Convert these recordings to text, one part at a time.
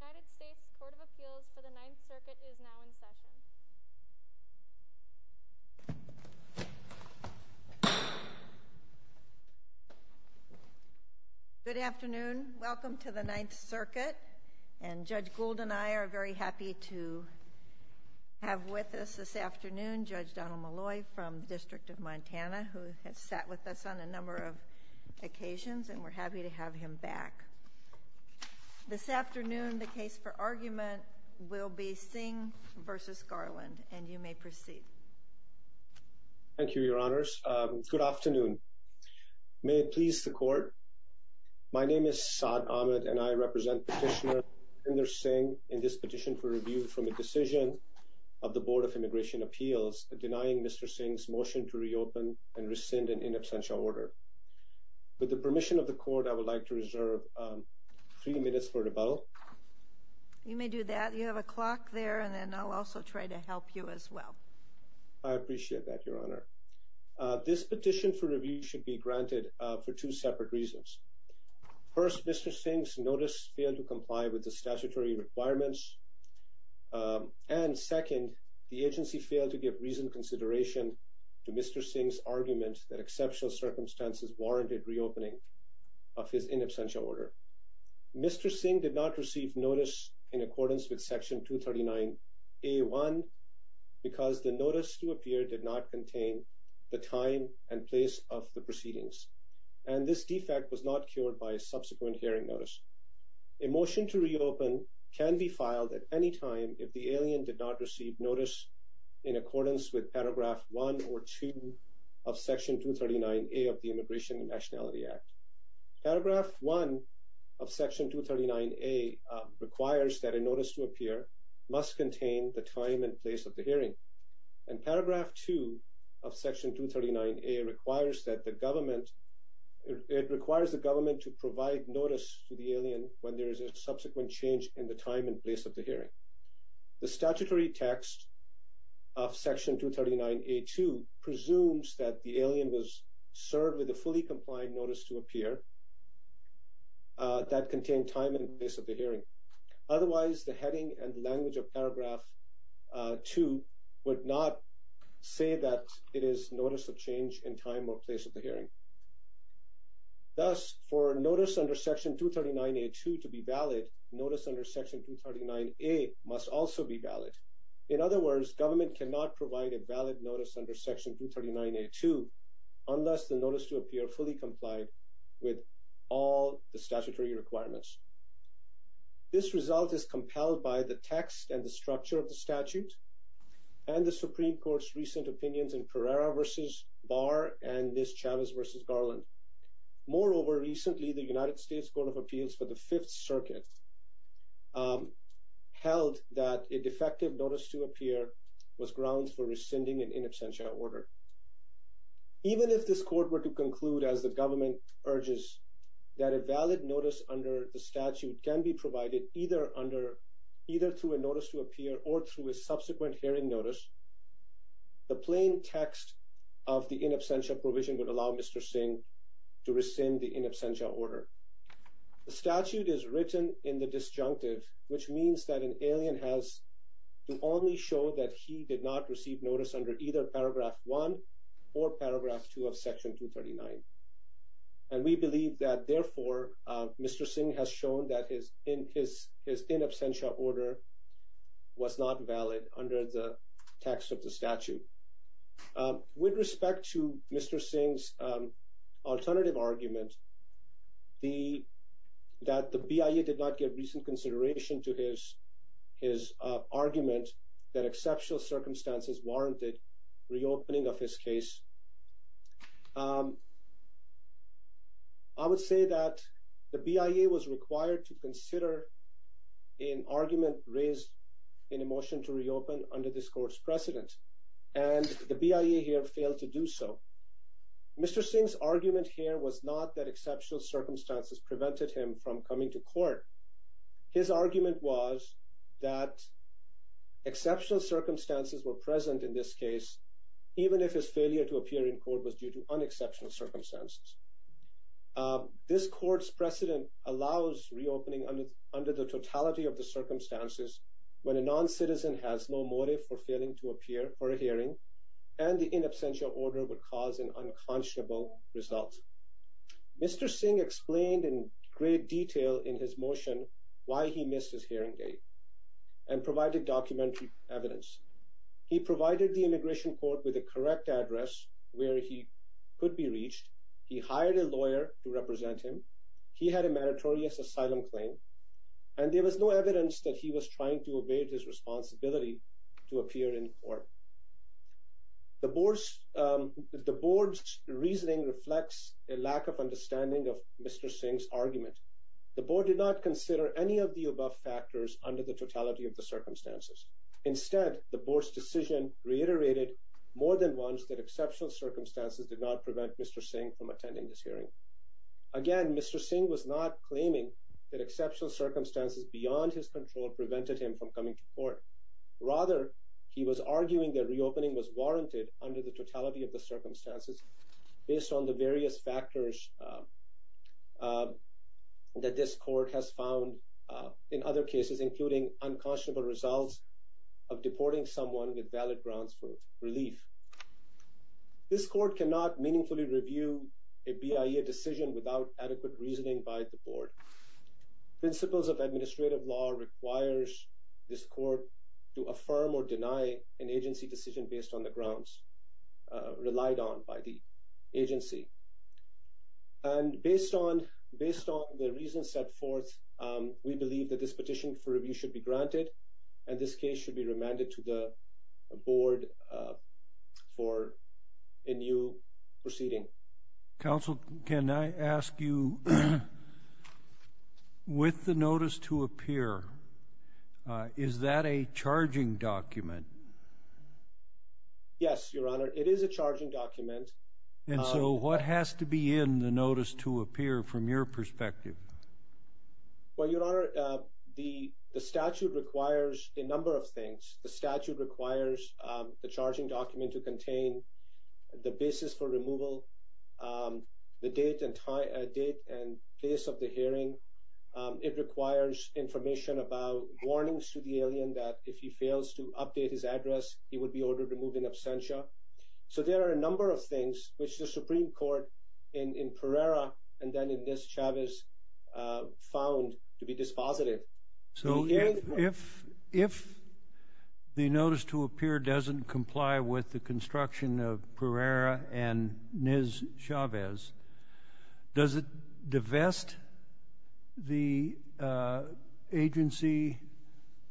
United States Court of Appeals for the Ninth Circuit is now in session. Good afternoon. Welcome to the Ninth Circuit. And Judge Gould and I are very happy to have with us this afternoon Judge Donald Malloy from the District of Montana who has sat with us on a number of occasions and we're happy to have him back. This afternoon the case for argument will be Singh v. Garland and you may proceed. Thank you, Your Honors. Good afternoon. May it please the Court. My name is Saad Ahmed and I represent Petitioner Inder Singh in this petition for review from a decision of the Board of Immigration Appeals denying Mr. Singh's motion to reopen and rescind an in absentia order. With the permission of the Court, I would like to reserve three minutes for rebuttal. You may do that. You have a clock there and then I'll also try to help you as well. I appreciate that, Your Honor. This petition for review should be granted for two separate reasons. First, Mr. Singh's notice failed to comply with the statutory requirements. And second, the agency failed to give reasoned consideration to Mr. Singh's argument that exceptional circumstances warranted reopening of his in absentia order. Mr. Singh did not receive notice in accordance with Section 239A1 because the notice to appear did not contain the time and place of the proceedings. And this defect was not cured by a subsequent hearing notice. A motion to reopen can be filed at any time if the alien did not receive notice in accordance with Paragraph 1 or 2 of Section 239A of the Immigration and Nationality Act. Paragraph 1 of Section 239A requires that a notice to appear must contain the time and place of the hearing. And Paragraph 2 of Section 239A requires that the government – it requires the government to provide notice to the alien when there is a subsequent change in the time and place of the hearing. The statutory text of Section 239A2 presumes that the alien was served with a fully compliant notice to appear that contained time and place of the hearing. Otherwise, the heading and language of Paragraph 2 would not say that it is notice of change in time or place of the hearing. Thus, for notice under Section 239A2 to be valid, notice under Section 239A must also be valid. In other words, government cannot provide a valid notice under Section 239A2 unless the notice to appear fully complied with all the statutory requirements. This result is compelled by the text and the structure of the statute and the Supreme Court's recent opinions in Pereira v. Barr and Ms. Chavez v. Garland. Moreover, recently the United States Court of Appeals for the Fifth Circuit held that a defective notice to appear was grounds for rescinding an in absentia order. Even if this court were to conclude, as the government urges, that a valid notice under the statute can be provided either through a notice to appear or through a subsequent hearing notice, the plain text of the in absentia provision would allow Mr. Singh to rescind the in absentia order. The statute is written in the disjunctive, which means that an alien has to only show that he did not receive notice under either Paragraph 1 or Paragraph 2 of Section 239. And we believe that, therefore, Mr. Singh has shown that his in absentia order was not valid under the text of the statute. With respect to Mr. Singh's alternative argument that the BIA did not give recent consideration to his argument that exceptional circumstances warranted reopening of his case, I would say that the BIA was required to consider an argument raised in a motion to reopen under this court's precedent, and the BIA here failed to do so. Mr. Singh's argument here was not that exceptional circumstances prevented him from coming to court. His argument was that exceptional circumstances were present in this case, even if his failure to appear in court was due to unexceptional circumstances. This court's precedent allows reopening under the totality of the circumstances when a non-citizen has no motive for failing to appear for a hearing, and the in absentia order would cause an unconscionable result. Mr. Singh explained in great detail in his motion why he missed his hearing date and provided documentary evidence. He provided the immigration court with a correct address where he could be reached. He hired a lawyer to represent him. He had a meritorious asylum claim, and there was no evidence that he was trying to evade his responsibility to appear in court. The board's reasoning reflects a lack of understanding of Mr. Singh's argument. The board did not consider any of the above factors under the totality of the circumstances. Instead, the board's decision reiterated more than once that exceptional circumstances did not prevent Mr. Singh from attending this hearing. Again, Mr. Singh was not claiming that exceptional circumstances beyond his control prevented him from coming to court. Rather, he was arguing that reopening was warranted under the totality of the circumstances based on the various factors that this court has found in other cases, including unconscionable results of deporting someone with valid grounds for relief. This court cannot meaningfully review a BIA decision without adequate reasoning by the board. Principles of administrative law requires this court to affirm or deny an agency decision based on the grounds relied on by the agency. And based on the reasons set forth, we believe that this petition for review should be granted, and this case should be remanded to the board for a new proceeding. Counsel, can I ask you, with the notice to appear, is that a charging document? Yes, Your Honor, it is a charging document. And so what has to be in the notice to appear from your perspective? Well, Your Honor, the statute requires a number of things. The statute requires the charging document to contain the basis for removal, the date and place of the hearing. It requires information about warnings to the alien that if he fails to update his address, he would be ordered to move in absentia. So there are a number of things which the Supreme Court in Pereira and then in this, Chavez, found to be dispositive. So if the notice to appear doesn't comply with the construction of Pereira and Ms. Chavez, does it divest the agency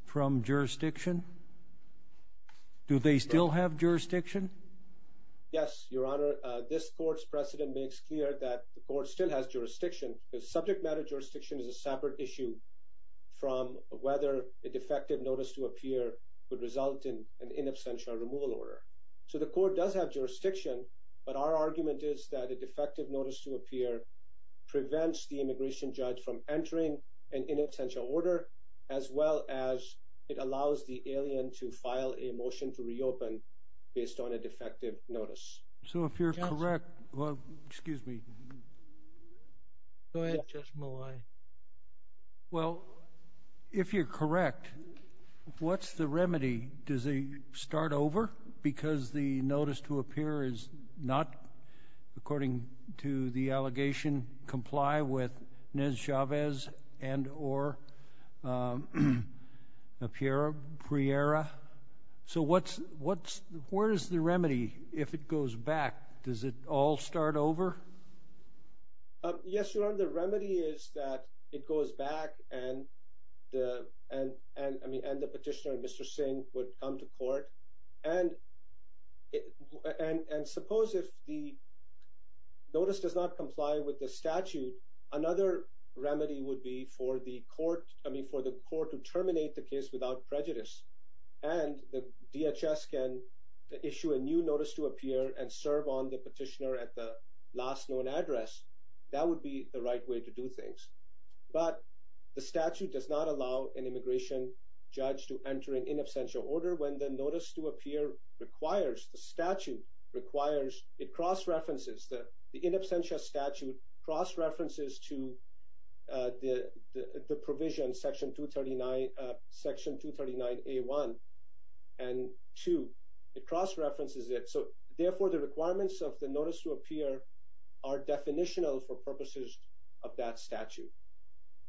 from jurisdiction? Do they still have jurisdiction? Yes, Your Honor, this court's precedent makes clear that the court still has jurisdiction. The subject matter jurisdiction is a separate issue from whether a defective notice to appear would result in an in absentia removal order. So the court does have jurisdiction, but our argument is that a defective notice to appear prevents the immigration judge from entering an in absentia order, as well as it allows the alien to file a motion to reopen based on a defective notice. So if you're correct, well, excuse me. Go ahead, Justice Malauulu. Well, if you're correct, what's the remedy? Does it start over because the notice to appear is not, according to the allegation, comply with Ms. Chavez and or Pereira? So where is the remedy if it goes back? Does it all start over? Yes, Your Honor, the remedy is that it goes back and the petitioner, Mr. Singh, would come to court. And and suppose if the notice does not comply with the statute, another remedy would be for the court. I mean, for the court to terminate the case without prejudice and the DHS can issue a new notice to appear and serve on the petitioner at the last known address. That would be the right way to do things. But the statute does not allow an immigration judge to enter an in absentia order. When the notice to appear requires the statute requires it cross references that the in absentia statute cross references to the provision, Section 239, Section 239 A1 and 2. It cross references it. So therefore, the requirements of the notice to appear are definitional for purposes of that statute.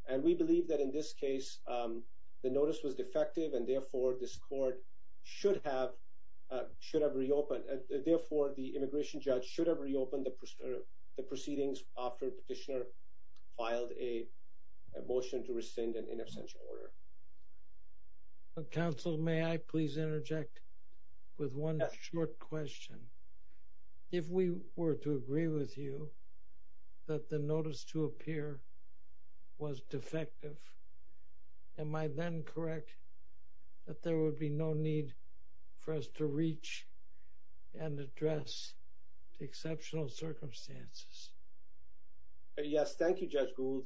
And we believe that in this case, the notice was defective and therefore this court should have should have reopened. Therefore, the immigration judge should have reopened the proceedings after petitioner filed a motion to rescind an in absentia order. Counsel, may I please interject with one short question? If we were to agree with you that the notice to appear was defective. Am I then correct that there would be no need for us to reach and address exceptional circumstances? Yes, thank you, Judge Gould.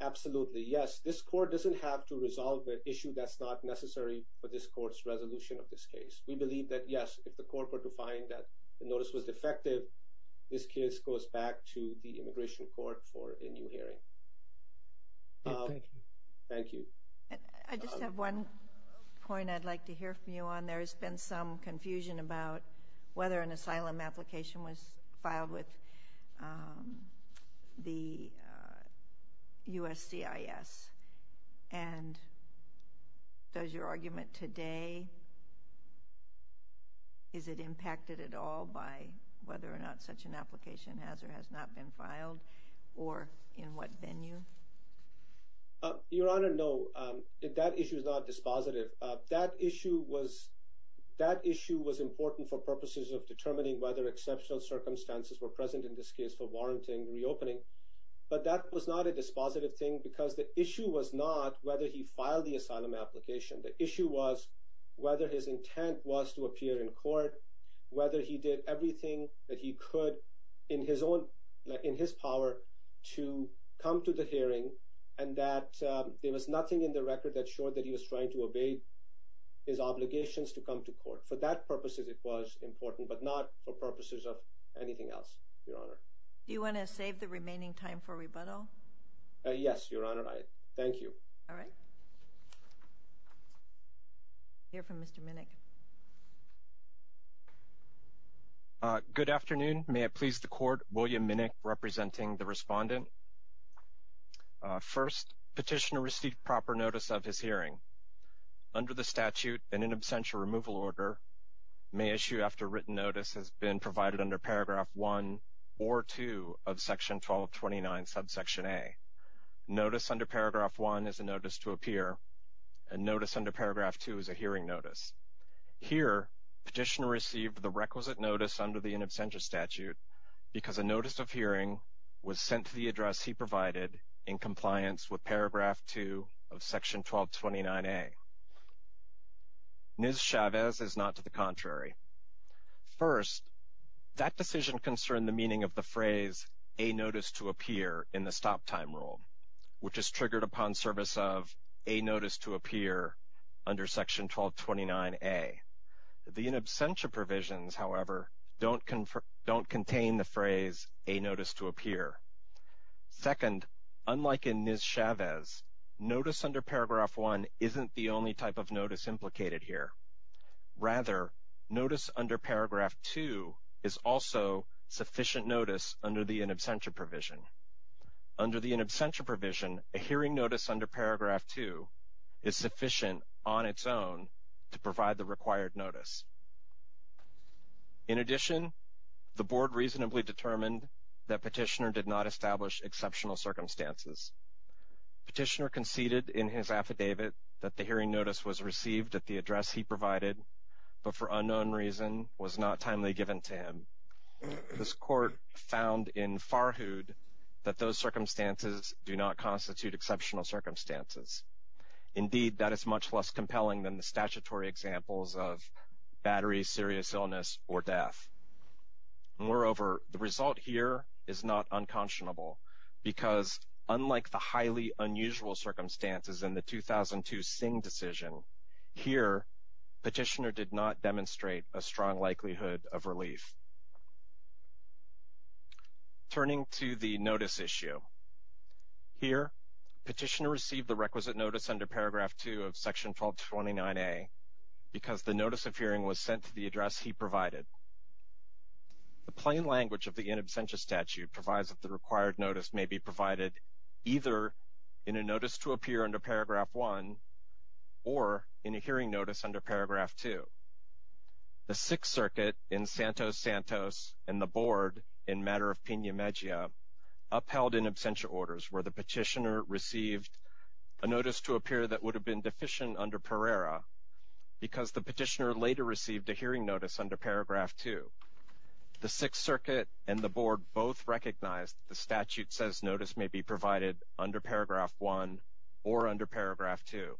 Absolutely, yes. This court doesn't have to resolve the issue that's not necessary for this court's resolution of this case. We believe that, yes, if the court were to find that the notice was defective, this case goes back to the immigration court for a new hearing. Thank you. Thank you. I just have one point I'd like to hear from you on. There has been some confusion about whether an asylum application was filed with the USCIS. And does your argument today, is it impacted at all by whether or not such an application has or has not been filed or in what venue? Your Honor, no. That issue is not dispositive. That issue was important for purposes of determining whether exceptional circumstances were present in this case for warranting reopening. But that was not a dispositive thing because the issue was not whether he filed the asylum application. The issue was whether his intent was to appear in court, whether he did everything that he could in his power to come to the hearing, and that there was nothing in the record that showed that he was trying to obey his obligations to come to court. For that purposes, it was important, but not for purposes of anything else, Your Honor. Do you want to save the remaining time for rebuttal? Yes, Your Honor. Thank you. All right. I'll hear from Mr. Minnick. Good afternoon. May it please the Court, William Minnick representing the respondent. First, petitioner received proper notice of his hearing. Under the statute and in absentia removal order, may issue after written notice has been provided under Paragraph 1 or 2 of Section 1229, Subsection A. Notice under Paragraph 1 is a notice to appear, and notice under Paragraph 2 is a hearing notice. Here, petitioner received the requisite notice under the in absentia statute because a notice of hearing was sent to the address he provided in compliance with Paragraph 2 of Section 1229A. Ms. Chavez is not to the contrary. First, that decision concerned the meaning of the phrase a notice to appear in the stop time rule, which is triggered upon service of a notice to appear under Section 1229A. The in absentia provisions, however, don't contain the phrase a notice to appear. Second, unlike in Ms. Chavez, notice under Paragraph 1 isn't the only type of notice implicated here. Rather, notice under Paragraph 2 is also sufficient notice under the in absentia provision. Under the in absentia provision, a hearing notice under Paragraph 2 is sufficient on its own to provide the required notice. In addition, the Board reasonably determined that petitioner did not establish exceptional circumstances. Petitioner conceded in his affidavit that the hearing notice was received at the address he provided, but for unknown reason was not timely given to him. This court found in farhood that those circumstances do not constitute exceptional circumstances. Indeed, that is much less compelling than the statutory examples of battery, serious illness, or death. Moreover, the result here is not unconscionable, because unlike the highly unusual circumstances in the 2002 Singh decision, here petitioner did not demonstrate a strong likelihood of relief. Turning to the notice issue. Here, petitioner received the requisite notice under Paragraph 2 of Section 1229A because the notice of hearing was sent to the address he provided. The plain language of the in absentia statute provides that the required notice may be provided either in a notice to appear under Paragraph 1 or in a hearing notice under Paragraph 2. The Sixth Circuit in Santos Santos and the Board in matter of Pena Mejia upheld in absentia orders where the petitioner received a notice to appear that would have been deficient under Pereira because the petitioner later received a hearing notice under Paragraph 2. The Sixth Circuit and the Board both recognized the statute says notice may be provided under Paragraph 1 or under Paragraph 2.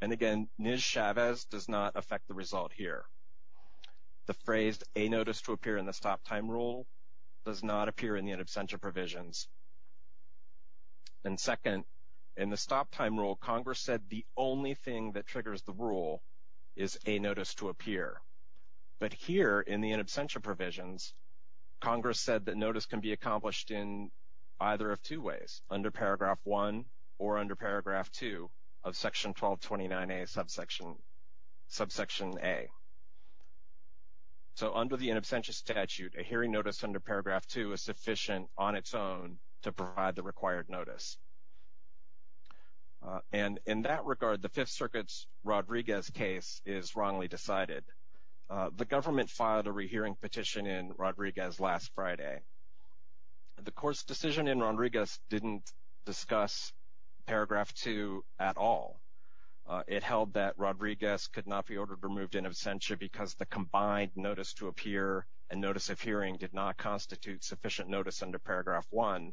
And again, Ms. Chavez does not affect the result here. The phrase a notice to appear in the stop time rule does not appear in the in absentia provisions. And second, in the stop time rule, Congress said the only thing that triggers the rule is a notice to appear. But here in the in absentia provisions, Congress said that notice can be accomplished in either of two ways, under Paragraph 1 or under Paragraph 2 of Section 1229A Subsection A. So under the in absentia statute, a hearing notice under Paragraph 2 is sufficient on its own to provide the required notice. And in that regard, the Fifth Circuit's Rodriguez case is wrongly decided. The government filed a rehearing petition in Rodriguez last Friday. The court's decision in Rodriguez didn't discuss Paragraph 2 at all. It held that Rodriguez could not be ordered removed in absentia because the combined notice to appear and notice of hearing did not constitute sufficient notice under Paragraph 1.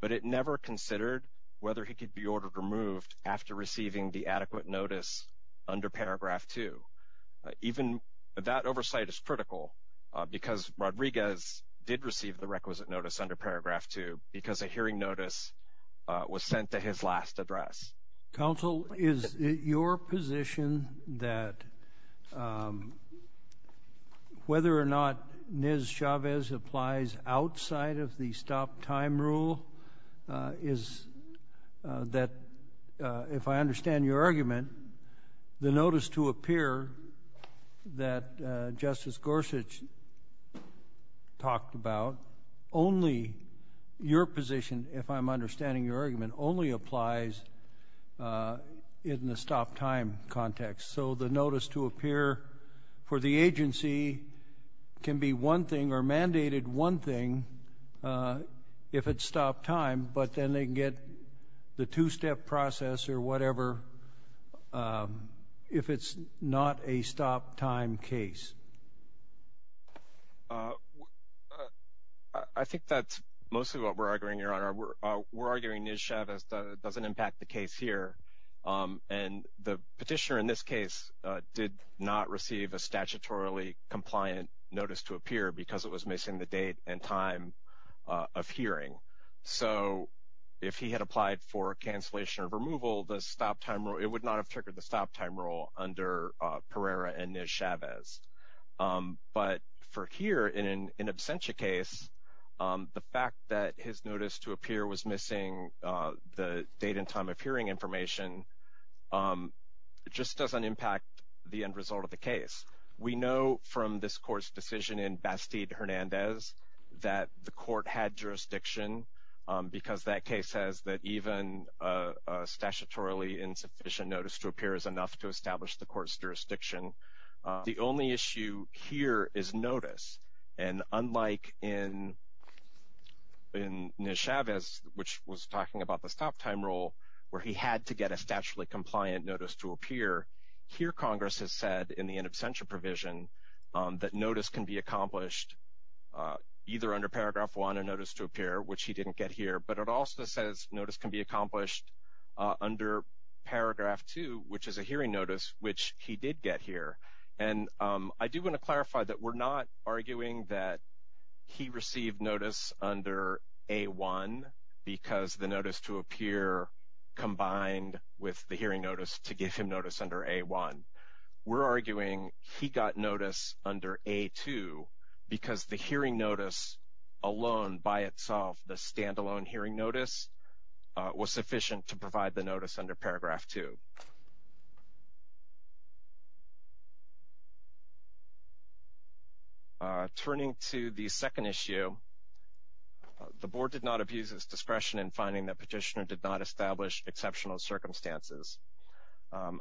But it never considered whether he could be ordered removed after receiving the adequate notice under Paragraph 2. Even that oversight is critical because Rodriguez did receive the requisite notice under Paragraph 2 because a hearing notice was sent to his last address. Counsel, is it your position that whether or not Ms. Chavez applies outside of the stop-time rule is that, if I understand your argument, the notice to appear that Justice Gorsuch talked about, only your position, if I'm understanding your argument, only applies in the stop-time context? So the notice to appear for the agency can be one thing or mandated one thing if it's stop-time, but then they can get the two-step process or whatever if it's not a stop-time case? I think that's mostly what we're arguing, Your Honor. We're arguing Ms. Chavez doesn't impact the case here. And the petitioner in this case did not receive a statutorily compliant notice to appear because it was missing the date and time of hearing. So if he had applied for cancellation or removal, the stop-time rule, it would not have triggered the stop-time rule under Pereira and Ms. Chavez. But for here, in an absentia case, the fact that his notice to appear was missing the date and time of hearing information just doesn't impact the end result of the case. We know from this court's decision in Bastide-Hernandez that the court had jurisdiction because that case says that even a statutorily insufficient notice to appear is enough to establish the court's jurisdiction. The only issue here is notice. And unlike in Ms. Chavez, which was talking about the stop-time rule, where he had to get a statutorily compliant notice to appear, here Congress has said in the in absentia provision that notice can be accomplished either under paragraph 1, a notice to appear, which he didn't get here, but it also says notice can be accomplished under paragraph 2, which is a hearing notice, which he did get here. And I do want to clarify that we're not arguing that he received notice under A1 because the notice to appear combined with the hearing notice to give him notice under A1. We're arguing he got notice under A2 because the hearing notice alone by itself, the standalone hearing notice, was sufficient to provide the notice under paragraph 2. Turning to the second issue, the board did not abuse its discretion in finding that Petitioner did not establish exceptional circumstances.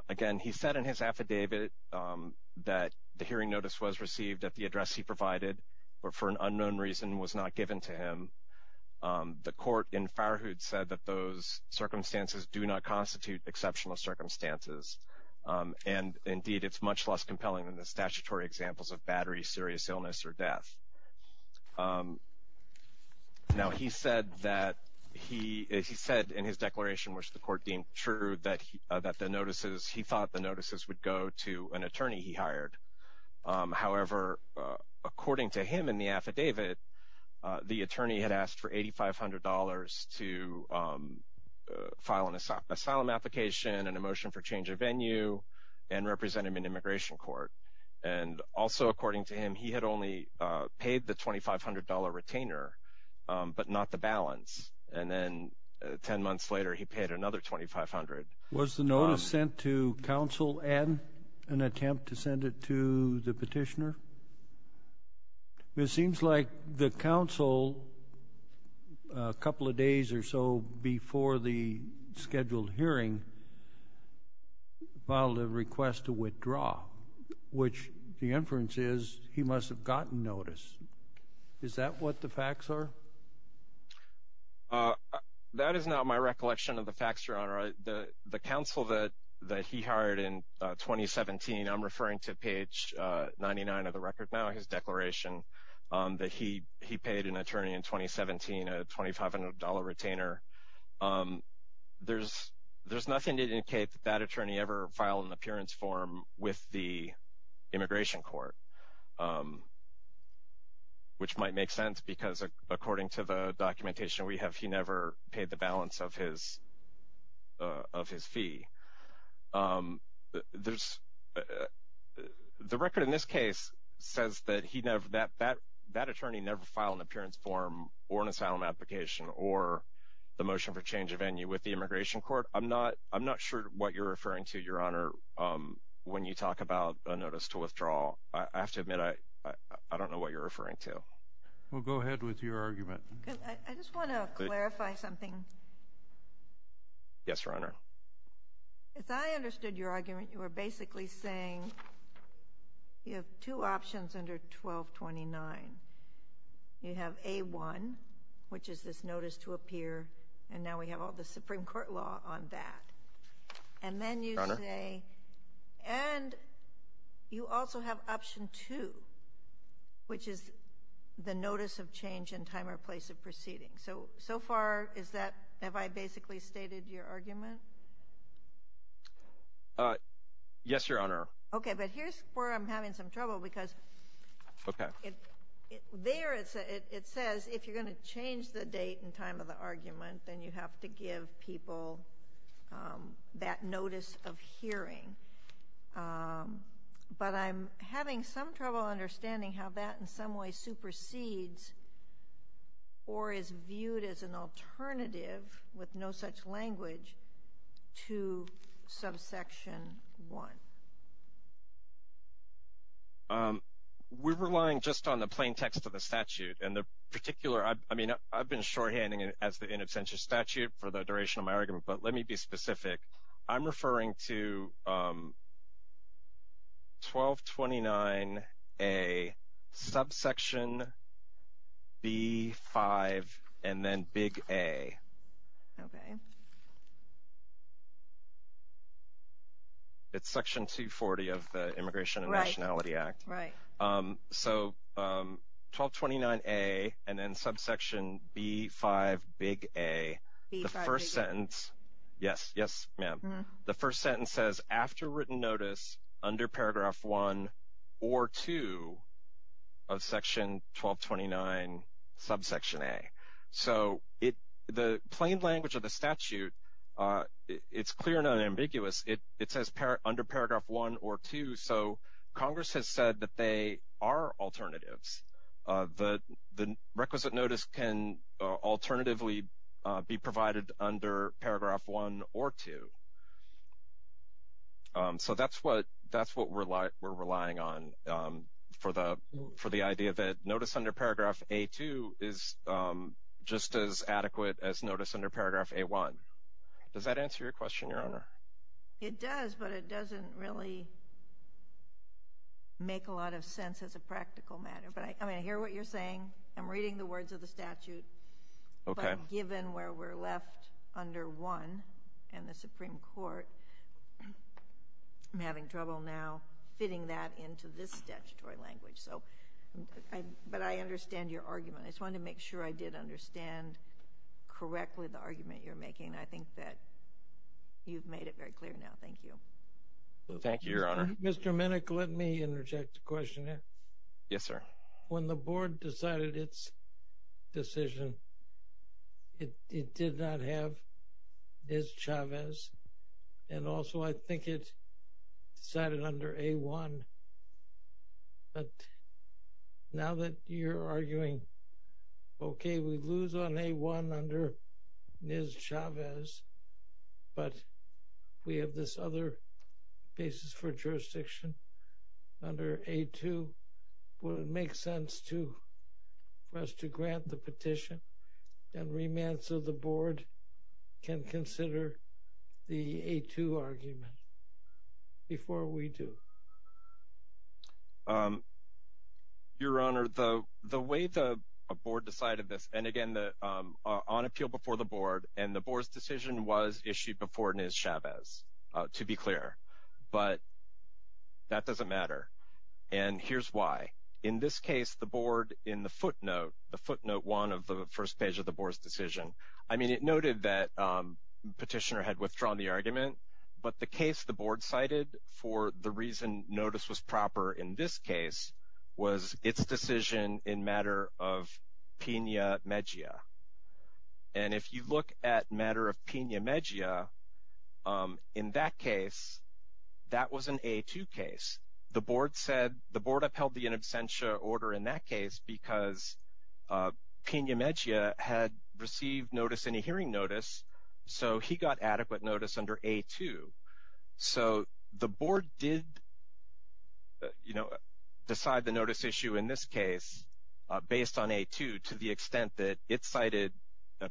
Again, he said in his affidavit that the hearing notice was received at the address he provided but for an unknown reason was not given to him. The court in Farhood said that those circumstances do not constitute exceptional circumstances. And indeed, it's much less compelling than the statutory examples of battery, serious illness, or death. Now, he said in his declaration, which the court deemed true, that he thought the notices would go to an attorney he hired. However, according to him in the affidavit, the attorney had asked for $8,500 to file an asylum application, and a motion for change of venue, and represent him in immigration court. And also, according to him, he had only paid the $2,500 retainer but not the balance. And then 10 months later, he paid another $2,500. Was the notice sent to counsel and an attempt to send it to the Petitioner? It seems like the counsel, a couple of days or so before the scheduled hearing, filed a request to withdraw, which the inference is he must have gotten notice. Is that what the facts are? That is not my recollection of the facts, Your Honor. The counsel that he hired in 2017, I'm referring to page 99 of the record now, his declaration, that he paid an attorney in 2017, a $2,500 retainer. There's nothing to indicate that that attorney ever filed an appearance form with the immigration court, which might make sense because according to the documentation we have, he never paid the balance of his fee. The record in this case says that that attorney never filed an appearance form or an asylum application or the motion for change of venue with the immigration court. I'm not sure what you're referring to, Your Honor, when you talk about a notice to withdraw. I have to admit I don't know what you're referring to. Well, go ahead with your argument. I just want to clarify something. Yes, Your Honor. As I understood your argument, you were basically saying you have two options under 1229. You have A-1, which is this notice to appear, and now we have all the Supreme Court law on that. And then you say, and you also have Option 2, which is the notice of change in time or place of proceeding. So, so far, is that, have I basically stated your argument? Yes, Your Honor. Okay, but here's where I'm having some trouble because there it says if you're going to change the date and time of the argument, then you have to give people that notice of hearing. But I'm having some trouble understanding how that in some way supersedes or is viewed as an alternative with no such language to subsection 1. We're relying just on the plain text of the statute. And the particular, I mean, I've been shorthanding it as the in absentia statute for the duration of my argument, but let me be specific. I'm referring to 1229A, subsection B-5, and then big A. Okay. It's section 240 of the Immigration and Nationality Act. Right. So, 1229A and then subsection B-5, big A. The first sentence, yes, yes, ma'am. The first sentence says, after written notice under paragraph 1 or 2 of section 1229, subsection A. So, the plain language of the statute, it's clear and unambiguous. It says under paragraph 1 or 2. So, Congress has said that they are alternatives. The requisite notice can alternatively be provided under paragraph 1 or 2. So, that's what we're relying on for the idea that notice under paragraph A-2 is just as adequate as notice under paragraph A-1. Does that answer your question, Your Honor? It does, but it doesn't really make a lot of sense as a practical matter. But, I mean, I hear what you're saying. I'm reading the words of the statute. Okay. But given where we're left under 1 in the Supreme Court, I'm having trouble now fitting that into this statutory language. So, but I understand your argument. I just wanted to make sure I did understand correctly the argument you're making. I think that you've made it very clear now. Thank you. Thank you, Your Honor. Mr. Minnick, let me interject a question here. Yes, sir. When the board decided its decision, it did not have Ms. Chavez. And also, I think it decided under A-1. But now that you're arguing, okay, we lose on A-1 under Ms. Chavez, but we have this other basis for jurisdiction under A-2. Would it make sense for us to grant the petition and remand so the board can consider the A-2 argument before we do? Your Honor, the way the board decided this, and again, on appeal before the board, and the board's decision was issued before Ms. Chavez, to be clear. But that doesn't matter. And here's why. In this case, the board, in the footnote, the footnote one of the first page of the board's decision, I mean, it noted that the petitioner had withdrawn the argument, but the case the board cited for the reason notice was proper in this case was its decision in matter of Pena-Megia. And if you look at matter of Pena-Megia, in that case, that was an A-2 case. The board said, the board upheld the in absentia order in that case because Pena-Megia had received notice in a hearing notice, so he got adequate notice under A-2. So the board did, you know, decide the notice issue in this case based on A-2 to the extent that it cited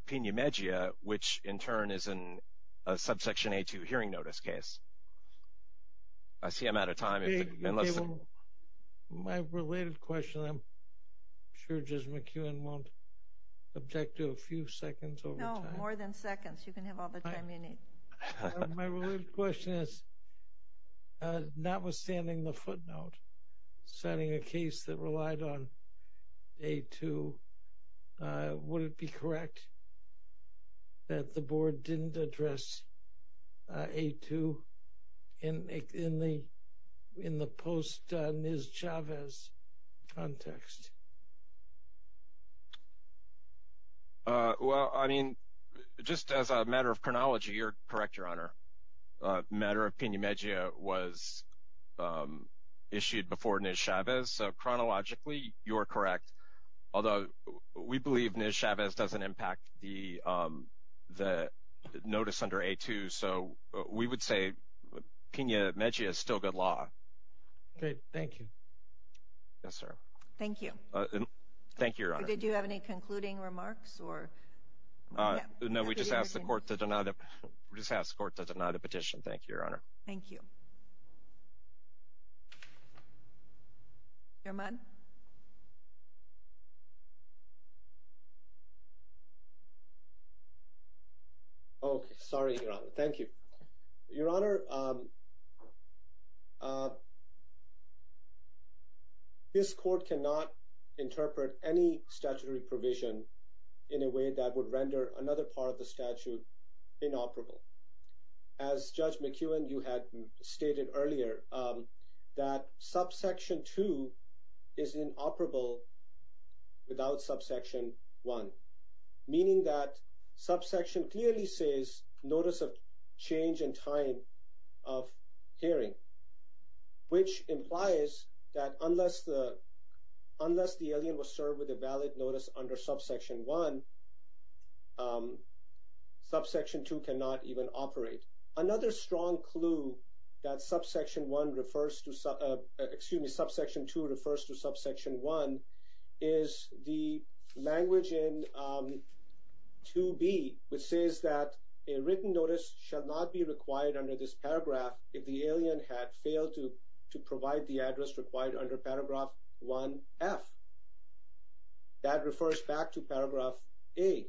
Pena-Megia, which in turn is a subsection A-2 hearing notice case. I see I'm out of time. My related question, I'm sure Judge McEwen won't object to a few seconds over time. No, more than seconds. You can have all the time you need. My related question is, notwithstanding the footnote, citing a case that relied on A-2, would it be correct that the board didn't address A-2 in the post-Ms. Chavez context? Well, I mean, just as a matter of chronology, you're correct, Your Honor. Matter of Pena-Megia was issued before Ms. Chavez, so chronologically, you're correct. Although we believe Ms. Chavez doesn't impact the notice under A-2, so we would say Pena-Megia is still good law. Okay, thank you. Yes, sir. Thank you. Thank you, Your Honor. Did you have any concluding remarks? No, we just asked the court to deny the petition. Thank you, Your Honor. Thank you. Chairman? Okay, sorry, Your Honor. Thank you. Your Honor, this court cannot interpret any statutory provision in a way that would render another part of the statute inoperable. As Judge McEwen, you had stated earlier that subsection 2 is inoperable without subsection 1, meaning that subsection clearly says notice of change in time of hearing, which implies that unless the alien was served with a valid notice under subsection 1, subsection 2 cannot even operate. Another strong clue that subsection 2 refers to subsection 1 is the language in 2B, which says that a written notice shall not be required under this paragraph if the alien had failed to provide the address required under paragraph 1F. That refers back to paragraph A,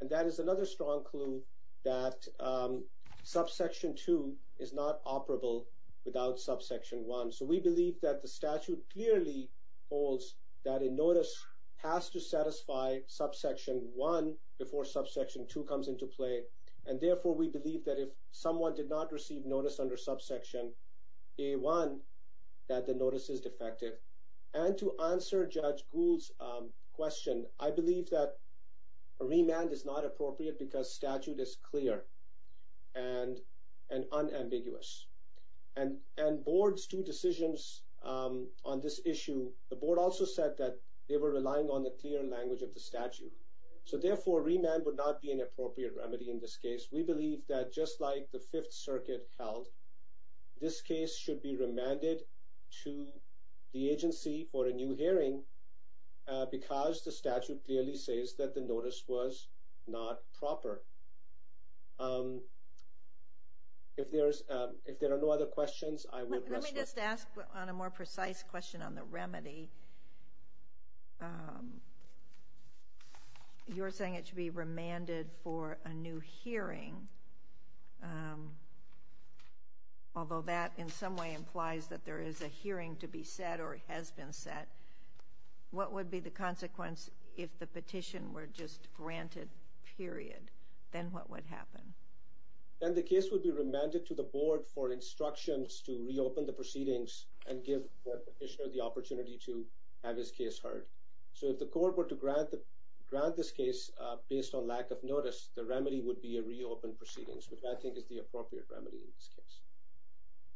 and that is another strong clue that subsection 2 is not operable without subsection 1. So we believe that the statute clearly holds that a notice has to satisfy subsection 1 before subsection 2 comes into play, and therefore we believe that if someone did not receive notice under subsection A1, that the notice is defective. And to answer Judge Gould's question, I believe that a remand is not appropriate because statute is clear and unambiguous. And board's two decisions on this issue, the board also said that they were relying on the clear language of the statute. So therefore, remand would not be an appropriate remedy in this case. We believe that just like the Fifth Circuit held, this case should be remanded to the agency for a new hearing because the statute clearly says that the notice was not proper. If there are no other questions, I will address them. Let me just ask on a more precise question on the remedy. You're saying it should be remanded for a new hearing, although that in some way implies that there is a hearing to be set or has been set. What would be the consequence if the petition were just granted, period? Then what would happen? Then the case would be remanded to the board for instructions to reopen the proceedings and give the petitioner the opportunity to have his case heard. So if the court were to grant this case based on lack of notice, the remedy would be a reopened proceedings, which I think is the appropriate remedy in this case.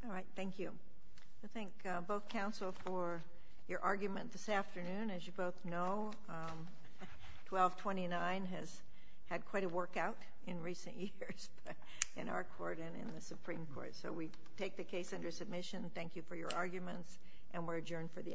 All right, thank you. I thank both counsel for your argument this afternoon. As you both know, 1229 has had quite a workout in recent years in our court and in the Supreme Court. So we take the case under submission. Thank you for your arguments, and we're adjourned for the afternoon.